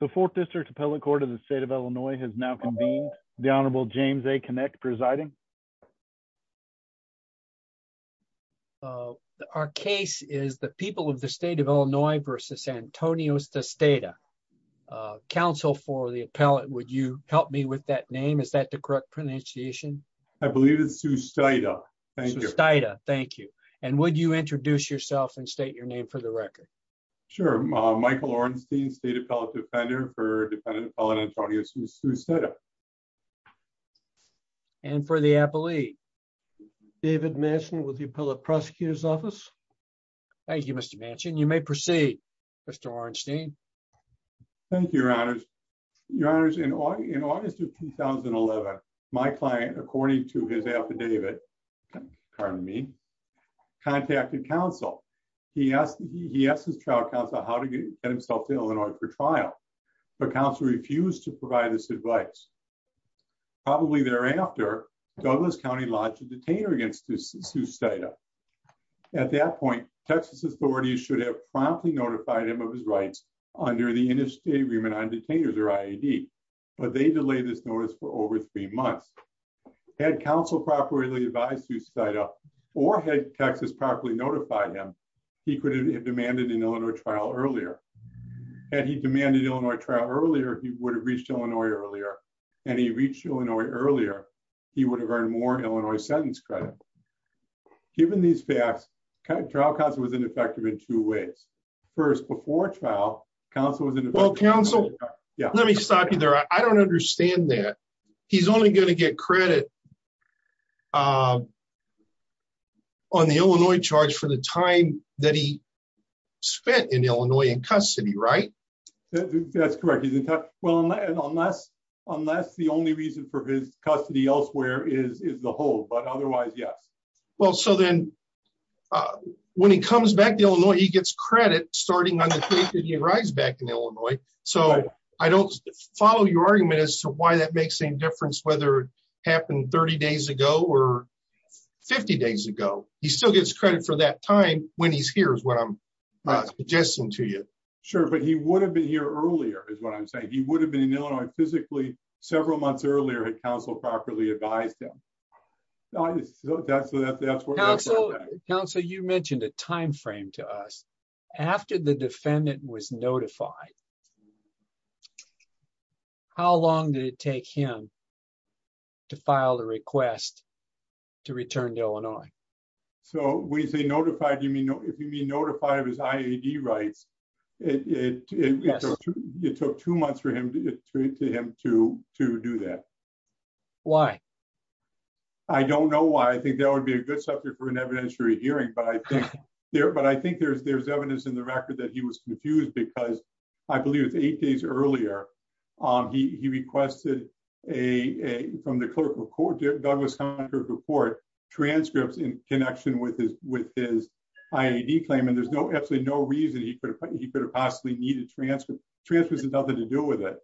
The Fourth District Appellate Court of the State of Illinois has now convened. The Honorable James A. Kinect presiding. Our case is the People of the State of Illinois v. Antonios Sustaita. Counsel for the appellate, would you help me with that name? Is that the correct pronunciation? I believe it's Sustaita. Thank you. Sustaita, thank you. And would you introduce yourself and state your name for the record? Sure. Michael Orenstein, State Appellate Defender for Defendant Appellant Antonios Sustaita. And for the appellee? David Manchin with the Appellate Prosecutor's Office. Thank you, Mr. Manchin. You may proceed, Mr. Orenstein. Thank you, Your Honors. Your Honors, in August of 2011, my client, according to his affidavit, pardon me, contacted counsel. He asked his trial counsel how to get himself to Illinois for trial. But counsel refused to provide this advice. Probably thereafter, Douglas County lodged a detainer against Sustaita. At that point, Texas authorities should have promptly notified him of his rights under the Interstate Agreement on Detainers, or IAD. But they delayed this notice for over three months. Had counsel properly advised Sustaita, or had Texas properly notified him, he could have demanded an Illinois trial earlier. Had he demanded an Illinois trial earlier, he would have reached Illinois earlier. And he reached Illinois earlier, he would have earned more Illinois sentence credit. Given these facts, trial counsel was ineffective in two ways. First, before trial, counsel was ineffective. Well, counsel, let me stop you there. I don't understand that. He's only going to get credit on the Illinois charge for the time that he spent in Illinois in custody, right? That's correct. Unless the only reason for his custody elsewhere is the hold, but otherwise, yes. Well, so then, when he comes back to Illinois, he gets credit starting on the date that he arrives back in Illinois. So I don't follow your argument as to why that makes any difference, whether it happened 30 days ago or 50 days ago. He still gets credit for that time when he's here, is what I'm suggesting to you. Sure, but he would have been here earlier, is what I'm saying. He would have been in Illinois physically several months earlier had counsel properly advised him. That's what I'm saying. Counsel, you mentioned a time frame to us. After the defendant was notified, how long did it take him to file the request to return to Illinois? So when you say notified, if you mean notified of his IAD rights, it took two months for him to do that. Why? I don't know why. I think that would be a good subject for an evidentiary hearing. But I think there's evidence in the record that he was confused because I believe it's eight days earlier. He requested from the clerk of court, Douglas Hunter, for transcripts in connection with his IAD claim. And there's absolutely no reason he could have possibly needed transcripts. Transcripts had nothing to do with it.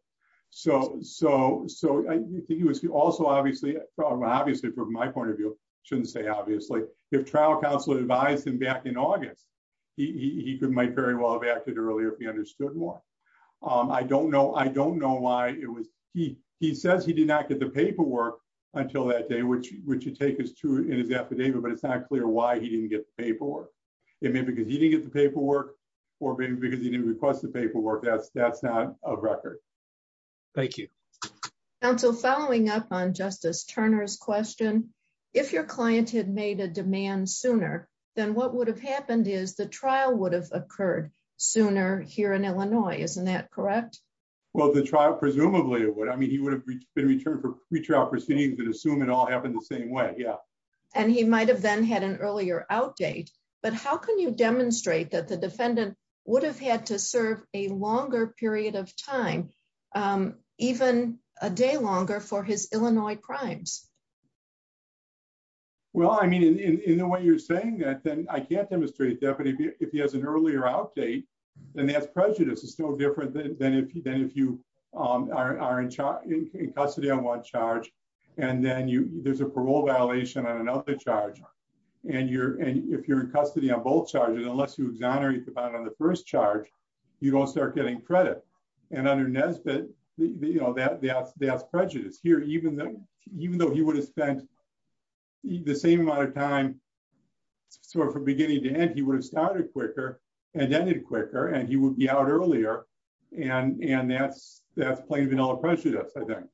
So I think he was also obviously, obviously from my point of view, I shouldn't say obviously, if trial counsel advised him back in August, he might very well have acted earlier if he understood why. I don't know. I don't know why it was. He says he did not get the paperwork until that day, which you take as true in his affidavit, but it's not clear why he didn't get the paperwork. It may be because he didn't get the paperwork or maybe because he didn't request the paperwork. That's that's not a record. Thank you. Counsel, following up on Justice Turner's question, if your client had made a demand sooner, then what would have happened is the trial would have occurred sooner here in Illinois. Isn't that correct? Well, the trial, presumably it would. I mean, he would have been returned for retrial proceedings and assume it all happened the same way. Yeah. And he might have then had an earlier outdate. But how can you demonstrate that the defendant would have had to serve a longer period of time, even a day longer for his Illinois crimes? Well, I mean, in the way you're saying that, then I can't demonstrate it. But if he has an earlier outdate, then that's prejudice. It's no different than if you are in custody on one charge. And then there's a parole violation on another charge. And if you're in custody on both charges, unless you exonerate the bond on the first charge, you don't start getting credit. And under Nesbitt, that's prejudice. Here, even though he would have spent the same amount of time from beginning to end, he would have started quicker and ended quicker and he would be out earlier. And that's plain vanilla prejudice, I think.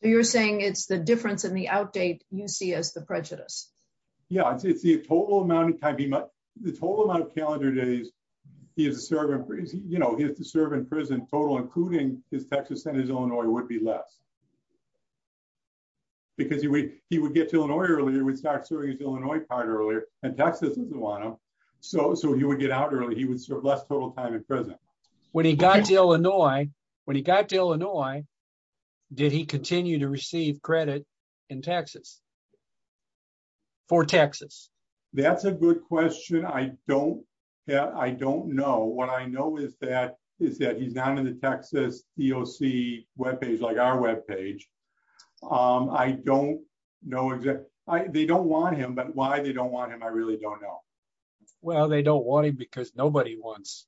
So you're saying it's the difference in the outdate you see as the prejudice? Yeah, it's the total amount of calendar days he has to serve in prison total, including his Texas and his Illinois, would be less. Because he would get to Illinois earlier, he would start serving his Illinois part earlier, and Texas isn't one of them. So he would get out early, he would serve less total time in prison. When he got to Illinois, when he got to Illinois, did he continue to receive credit in Texas? For Texas? That's a good question. I don't know. What I know is that he's not on the Texas EOC webpage, like our webpage. I don't know. They don't want him, but why they don't want him, I really don't know. Well, they don't want him because nobody wants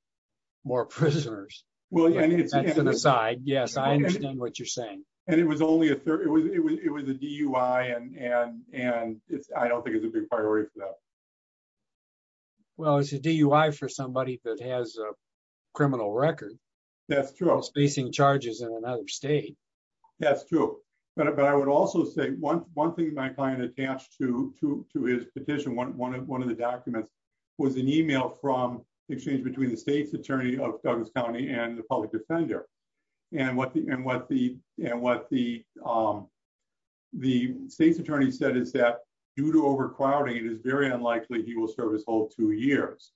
more prisoners. That's an aside. Yes, I understand what you're saying. And it was a DUI, and I don't think it's a big priority for them. Well, it's a DUI for somebody that has a criminal record. That's true. Spacing charges in another state. That's true. But I would also say one thing my client attached to his petition, one of the documents, was an email from the exchange between the state's attorney of Douglas County and the public defender. And what the state's attorney said is that due to overcrowding, it is very unlikely he will serve his whole two years.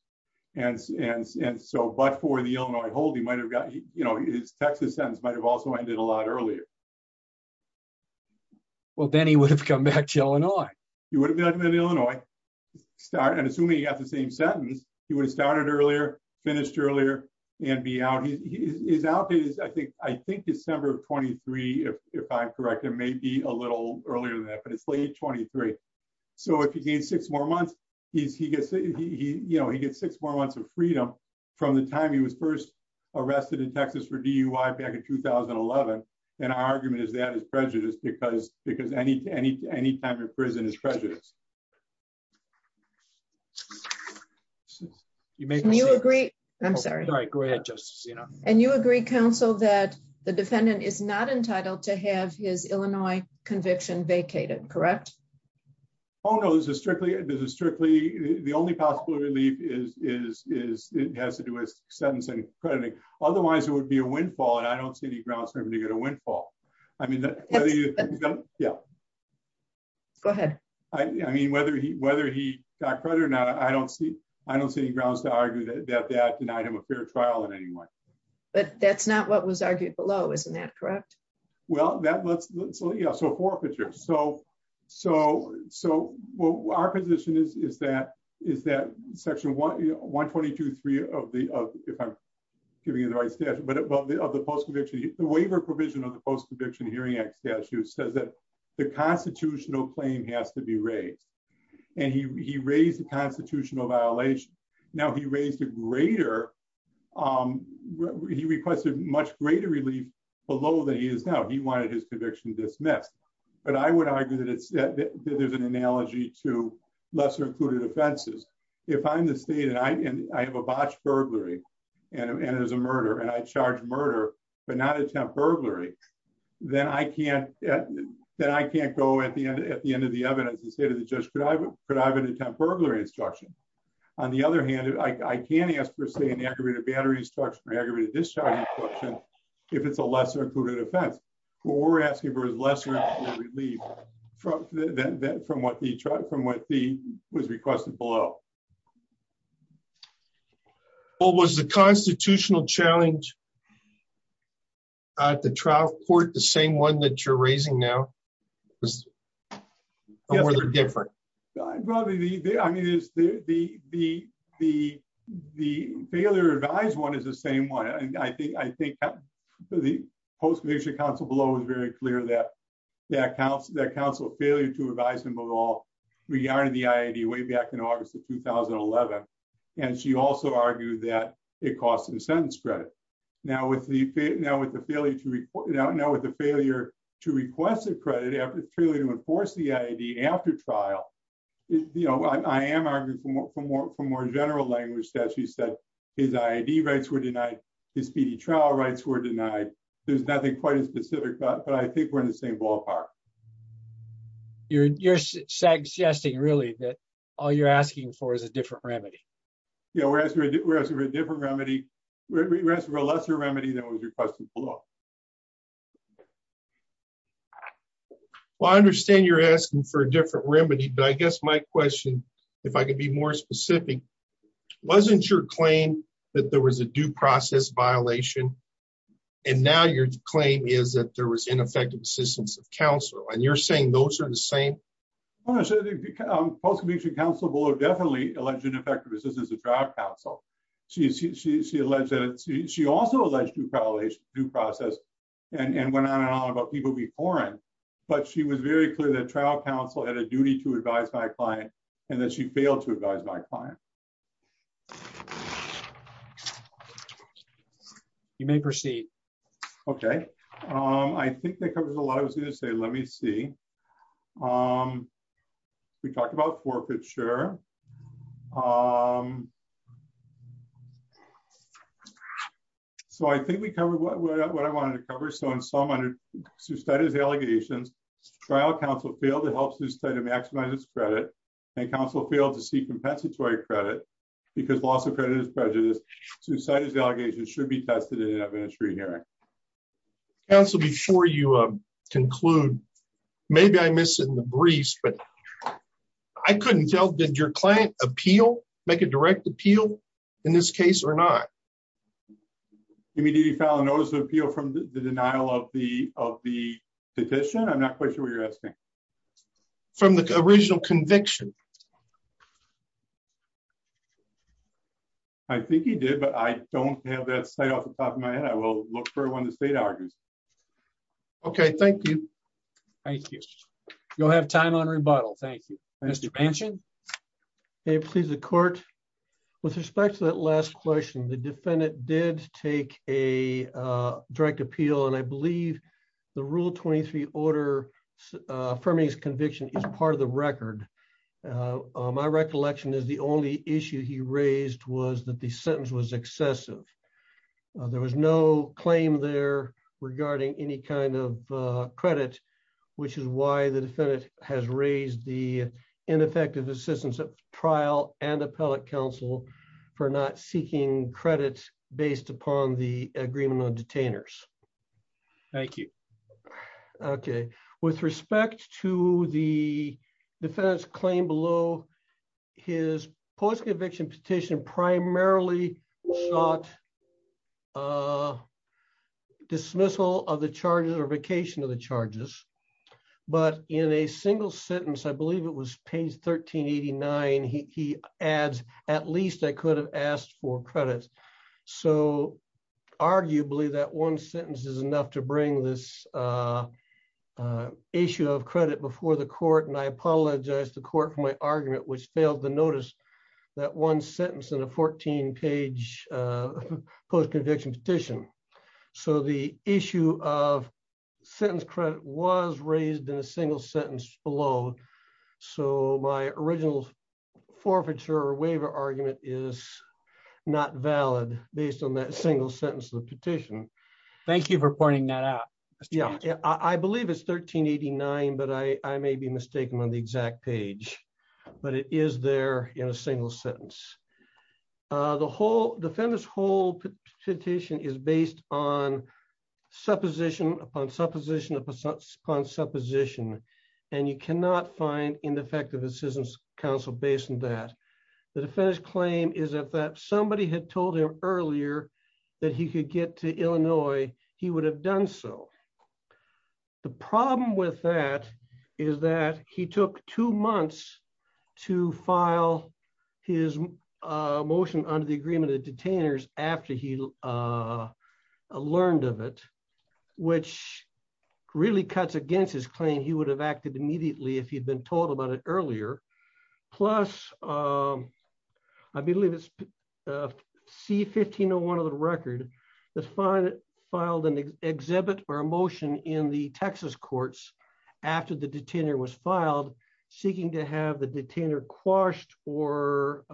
But for the Illinois hold, his Texas sentence might have also ended a lot earlier. Well, then he would have come back to Illinois. He would have come back to Illinois. And assuming he got the same sentence, he would have started earlier, finished earlier, and be out. His outdate is, I think, December 23, if I'm correct. It may be a little earlier than that, but it's late 23. So if he gets six more months, he gets six more months of freedom from the time he was first arrested in Texas for DUI back in 2011. And our argument is that is prejudice because any time you're in prison is prejudice. You may agree. I'm sorry. Go ahead, Justice. And you agree, counsel, that the defendant is not entitled to have his Illinois conviction vacated, correct? Oh, no, this is strictly, this is strictly, the only possible relief is, is, is, it has to do with sentence and crediting. Otherwise, it would be a windfall and I don't see any grounds for him to get a windfall. I mean, yeah. Go ahead. I mean, whether he, whether he got credit or not, I don't see, I don't see any grounds to argue that that denied him a fair trial in any way. But that's not what was argued below, isn't that correct? Well, that was, yeah, so forfeiture. So, so, so what our position is, is that, is that section 122.3 of the, if I'm giving you the right statute, but above the post conviction, the waiver provision of the Post Conviction Hearing Act statute says that the constitutional claim has to be raised. And he raised a constitutional violation. Now he raised a greater. He requested much greater relief below that he is now, he wanted his conviction dismissed. But I would argue that it's, that there's an analogy to lesser included offenses. If I'm the state and I have a botched burglary, and it was a murder and I charge murder, but not attempt burglary, then I can't, then I can't go at the end, at the end of the evidence and say to the judge, could I have an attempt burglary instruction? On the other hand, I can ask for, say, an aggravated battery instruction or aggravated discharging instruction, if it's a lesser included offense. What we're asking for is lesser included relief from what the, from what the, was requested below. Well, was the constitutional challenge at the trial court the same one that you're raising now? Or were they different? Probably the, I mean, the failure to advise one is the same one. I think the post-conviction counsel below was very clear that counsel failure to advise him at all re-ironed the IAD way back in August of 2011. And she also argued that it cost him sentence credit. Now with the, now with the failure to report, now with the failure to request a credit, to enforce the IAD after trial, you know, I am arguing from more general language that she said his IAD rights were denied, his PD trial rights were denied. There's nothing quite as specific, but I think we're in the same ballpark. You're suggesting really that all you're asking for is a different remedy. Yeah, we're asking for a different remedy. We're asking for a lesser remedy than was requested below. Well, I understand you're asking for a different remedy, but I guess my question, if I could be more specific, wasn't your claim that there was a due process violation? And now your claim is that there was ineffective assistance of counsel, and you're saying those are the same? Post-conviction counsel below definitely alleged ineffective assistance of trial counsel. She alleged that, she also alleged due process and went on and on about people being foreign, but she was very clear that trial counsel had a duty to advise my client, and that she failed to advise my client. You may proceed. Okay, I think that covers a lot. I was going to say, let me see. We talked about forfeiture. Forfeiture. So I think we covered what I wanted to cover. So in sum, under Suicida's allegations, trial counsel failed to help Suicida maximize its credit, and counsel failed to seek compensatory credit, because loss of credit is prejudiced. Suicida's allegations should be tested in an administrative hearing. Counsel, before you conclude, maybe I missed it in the briefs, but I couldn't tell, did your client appeal, make a direct appeal in this case or not? You mean, did he file a notice of appeal from the denial of the petition? I'm not quite sure what you're asking. From the original conviction. I think he did, but I don't have that site off the top of my head. I will look for when the state argues. Okay, thank you. Thank you. You'll have time on rebuttal. Thank you, Mr. Benson. Please, the court. With respect to that last question the defendant did take a direct appeal and I believe the rule 23 order for me is conviction is part of the record. My recollection is the only issue he raised was that the sentence was excessive. There was no claim there regarding any kind of credit, which is why the defendant has raised the ineffective assistance of trial and appellate counsel for not seeking credit, based upon the agreement on detainers. Thank you. Okay, with respect to the defense claim below his post conviction petition primarily sought dismissal of the charges or vacation of the charges, but in a single sentence I believe it was page 1389 he adds, at least I could have asked for credits. So, arguably that one sentence is enough to bring this issue of credit before the court and I apologize to court for my argument which failed to notice that one sentence in a 14 page post conviction petition. So the issue of sentence credit was raised in a single sentence below. So my original forfeiture waiver argument is not valid, based on that single sentence the petition. Thank you for pointing that out. Yeah, I believe it's 1389 but I may be mistaken on the exact page, but it is there in a single sentence. The whole defendants whole petition is based on supposition upon supposition upon supposition, and you cannot find ineffective assistance council based on that the defense claim is that that somebody had told him earlier that he could get to Illinois, he would have done so. The problem with that is that he took two months to file his motion under the agreement of detainers, after he learned of it, which really cuts against his claim he would have acted immediately if he'd been told about it earlier. Plus, I believe it's C 1501 of the record. That's fine. Filed an exhibit or emotion in the Texas courts. After the detainer was filed, seeking to have the detainer quashed or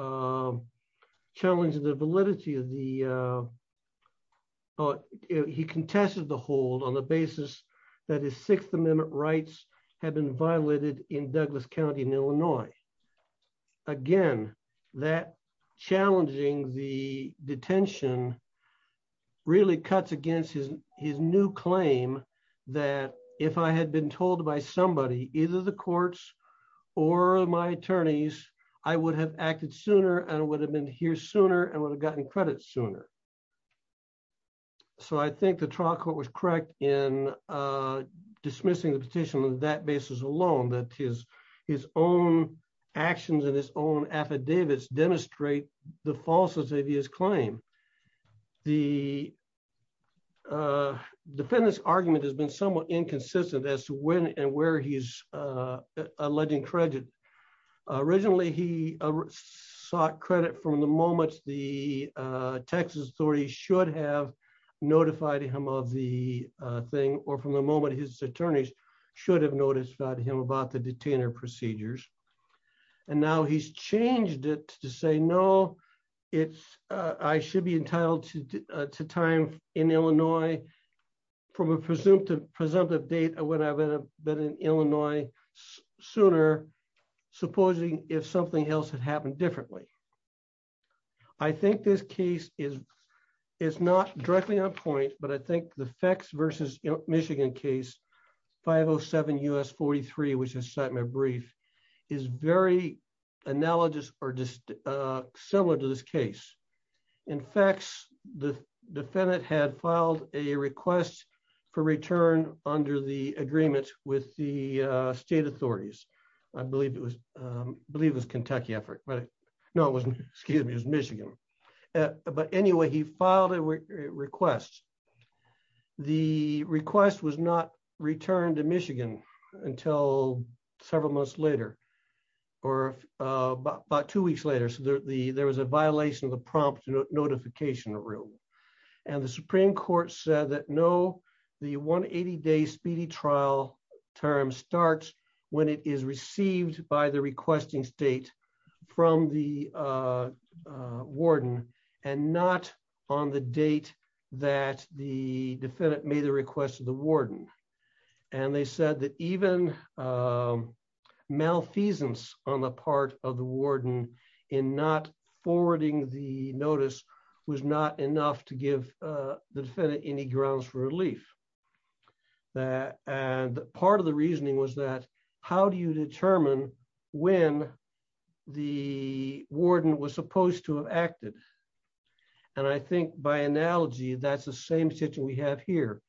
challenge the validity of the. Oh, he contested the hold on the basis that his Sixth Amendment rights have been violated in Douglas County in Illinois. Again, that challenging the detention really cuts against his, his new claim that if I had been told by somebody, either the courts or my attorneys, I would have acted sooner and would have been here sooner and would have gotten credit sooner. So I think the trial court was correct in dismissing the petition on that basis alone that his, his own actions in his own affidavits demonstrate the falseness of his claim. The defendants argument has been somewhat inconsistent as to when and where he's alleging credit. Originally he sought credit from the moment the Texas story should have notified him of the thing, or from the moment his attorneys should have noticed about him about the detainer procedures. And now he's changed it to say no, it's, I should be entitled to time in Illinois, from a presumptive presumptive date when I've been in Illinois, sooner, supposing if something else had happened differently. I think this case is, is not directly on point, but I think the effects versus Michigan case 507 us 43 which is set my brief is very analogous, or just similar to this case. In fact, the defendant had filed a request for return under the agreement with the state authorities. I believe it was believe was Kentucky effort but no it wasn't excuse me as Michigan. But anyway, he filed a request. The request was not returned to Michigan until several months later, or about two weeks later so that the there was a violation of the prompt notification room. And the Supreme Court said that no. The one 80 days speedy trial term starts when it is received by the requesting state from the warden, and not on the date that the defendant made a request to the warden. And they said that even malfeasance on the part of the warden in not forwarding the notice was not enough to give the defendant any grounds for relief. And part of the reasoning was that, how do you determine when the warden was supposed to have acted. And I think by analogy, that's the same situation we have here.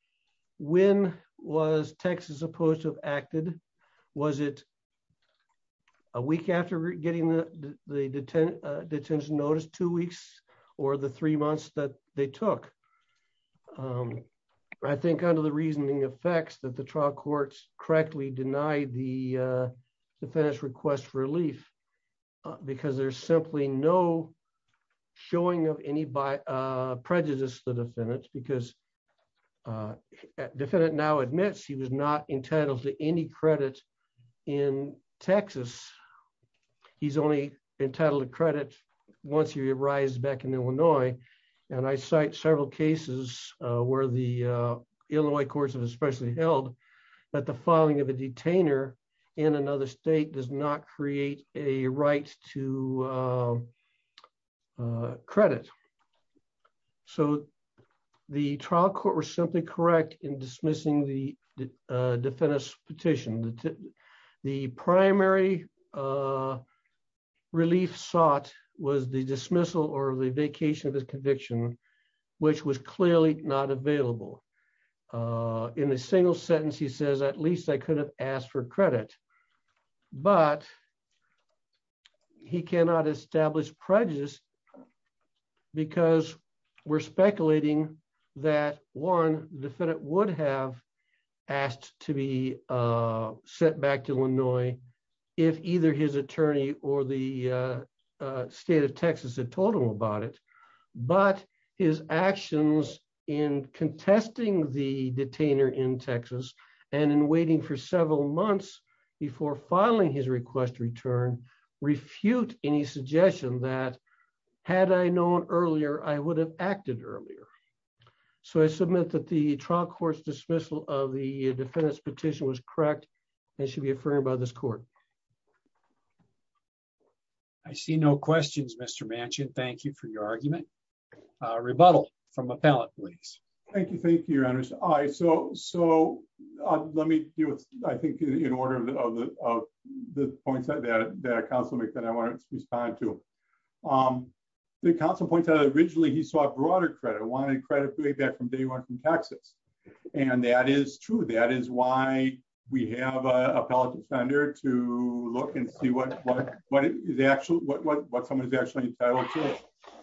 When was Texas opposed to have acted. Was it a week after getting the, the detention notice two weeks, or the three months that they took. I think under the reasoning effects that the trial courts correctly denied the defense request relief, because there's simply no showing of any by prejudice the defendants because defendant now admits he was not entitled to any credit in Texas. He's only entitled to credit. Once you rise back in Illinois, and I cite several cases where the Illinois courts have especially held that the following of a detainer in another state does not create a right to credit. So, the trial court was something correct in dismissing the defendants petition. The primary relief sought was the dismissal or the vacation of his conviction, which was clearly not available in a single sentence he says at least I could have asked for credit, but he cannot establish prejudice. Because we're speculating that one defendant would have asked to be sent back to Illinois. If either his attorney or the state of Texas and told him about it, but his actions in contesting the detainer in Texas, and in waiting for several months before filing his request return refute any suggestion that had I known earlier I would have acted earlier. So I submit that the trial courts dismissal of the defendants petition was correct. They should be affirmed by this court. I see no questions Mr mansion, thank you for your argument rebuttal from a palate, please. Thank you. Thank you. Look and see what what what is actually what what what someone is actually entitled to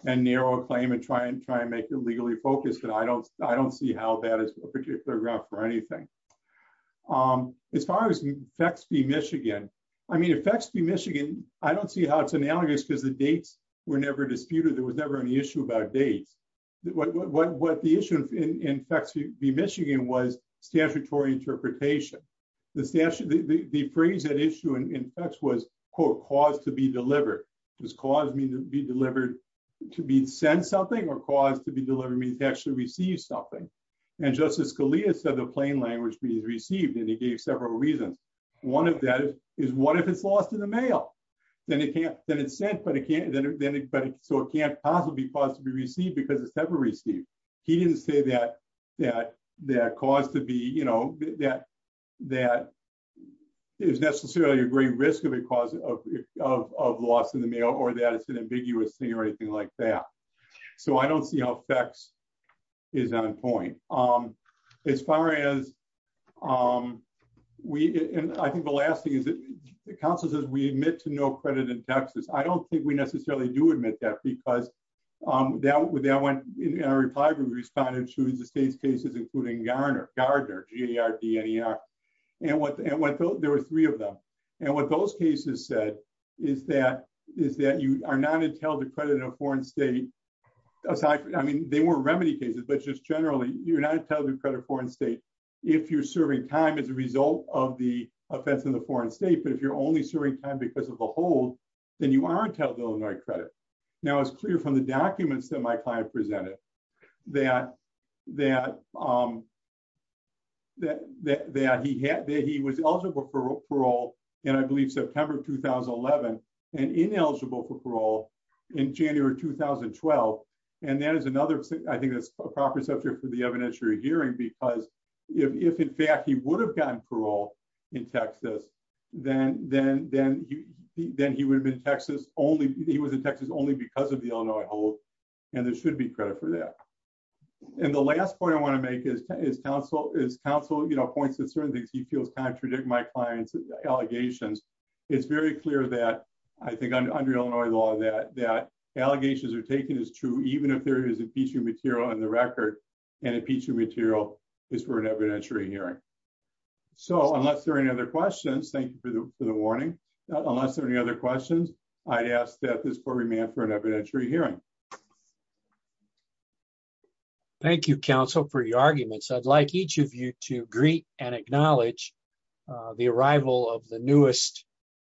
and narrow claim and try and try and make it legally focused and I don't, I don't see how that is a particular graph for anything. As far as effects be Michigan. I mean effects be Michigan. I don't see how it's analogous because the dates were never disputed there was never any issue about dates. What what what the issue in fact to be Michigan was statutory interpretation. The statute, the phrase that issue and effects was called cause to be delivered was caused me to be delivered to be sent something or cause to be delivered means actually receive something. And Justice Scalia said the plain language means received and he gave several reasons. One of that is, is what if it's lost in the mail. Then it can't then it's sent but it can't then it but so it can't possibly possibly receive because it's never received. He didn't say that, that, that caused to be you know that that is necessarily a great risk of a cause of loss in the mail or that it's an ambiguous thing or anything like that. So I don't see how effects is on point. As far as we, I think the last thing is that the council says we admit to no credit in Texas, I don't think we necessarily do admit that because that went in our reply group responded to the state's cases including Garner, Gardner, GAR, DNR. And what there were three of them. And what those cases said is that is that you are not entitled to credit in a foreign state. I mean, they were remedy cases but just generally you're not telling credit foreign state. If you're serving time as a result of the offense in the foreign state but if you're only serving time because of the whole, then you are entitled to Illinois credit. Now it's clear from the documents that my client presented. That, that, that, that he had that he was eligible for parole, and I believe September 2011 and ineligible for parole in January 2012. And that is another thing I think that's a proper subject for the evidentiary hearing because if in fact he would have gotten parole in Texas, then, then, then, then he would have been Texas only he was in Texas only because of the Illinois hold. And there should be credit for that. And the last point I want to make is, is counsel is counsel you know points to certain things he feels contradict my clients allegations. It's very clear that I think I'm under Illinois law that that allegations are taken is true, even if there is impeachment material on the record and impeachment material is for an evidentiary hearing. So unless there are any other questions, thank you for the, for the warning. Unless there are any other questions, I'd ask that this court remain for an evidentiary hearing. Thank you counsel for your arguments, I'd like each of you to greet and acknowledge the arrival of the newest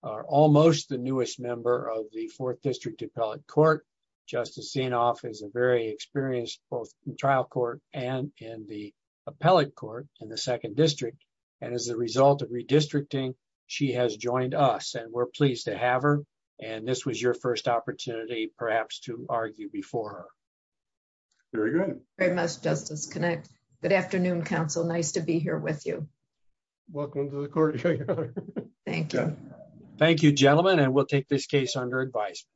are almost the newest member of the fourth district appellate court. Just a scene off is a very experienced both trial court, and in the appellate court in the second district. And as a result of redistricting. She has joined us and we're pleased to have her. And this was your first opportunity, perhaps to argue before. Very good. Very much justice connect. Good afternoon counsel nice to be here with you. Welcome to the court. Thank you. Thank you gentlemen and we'll take this case under advice.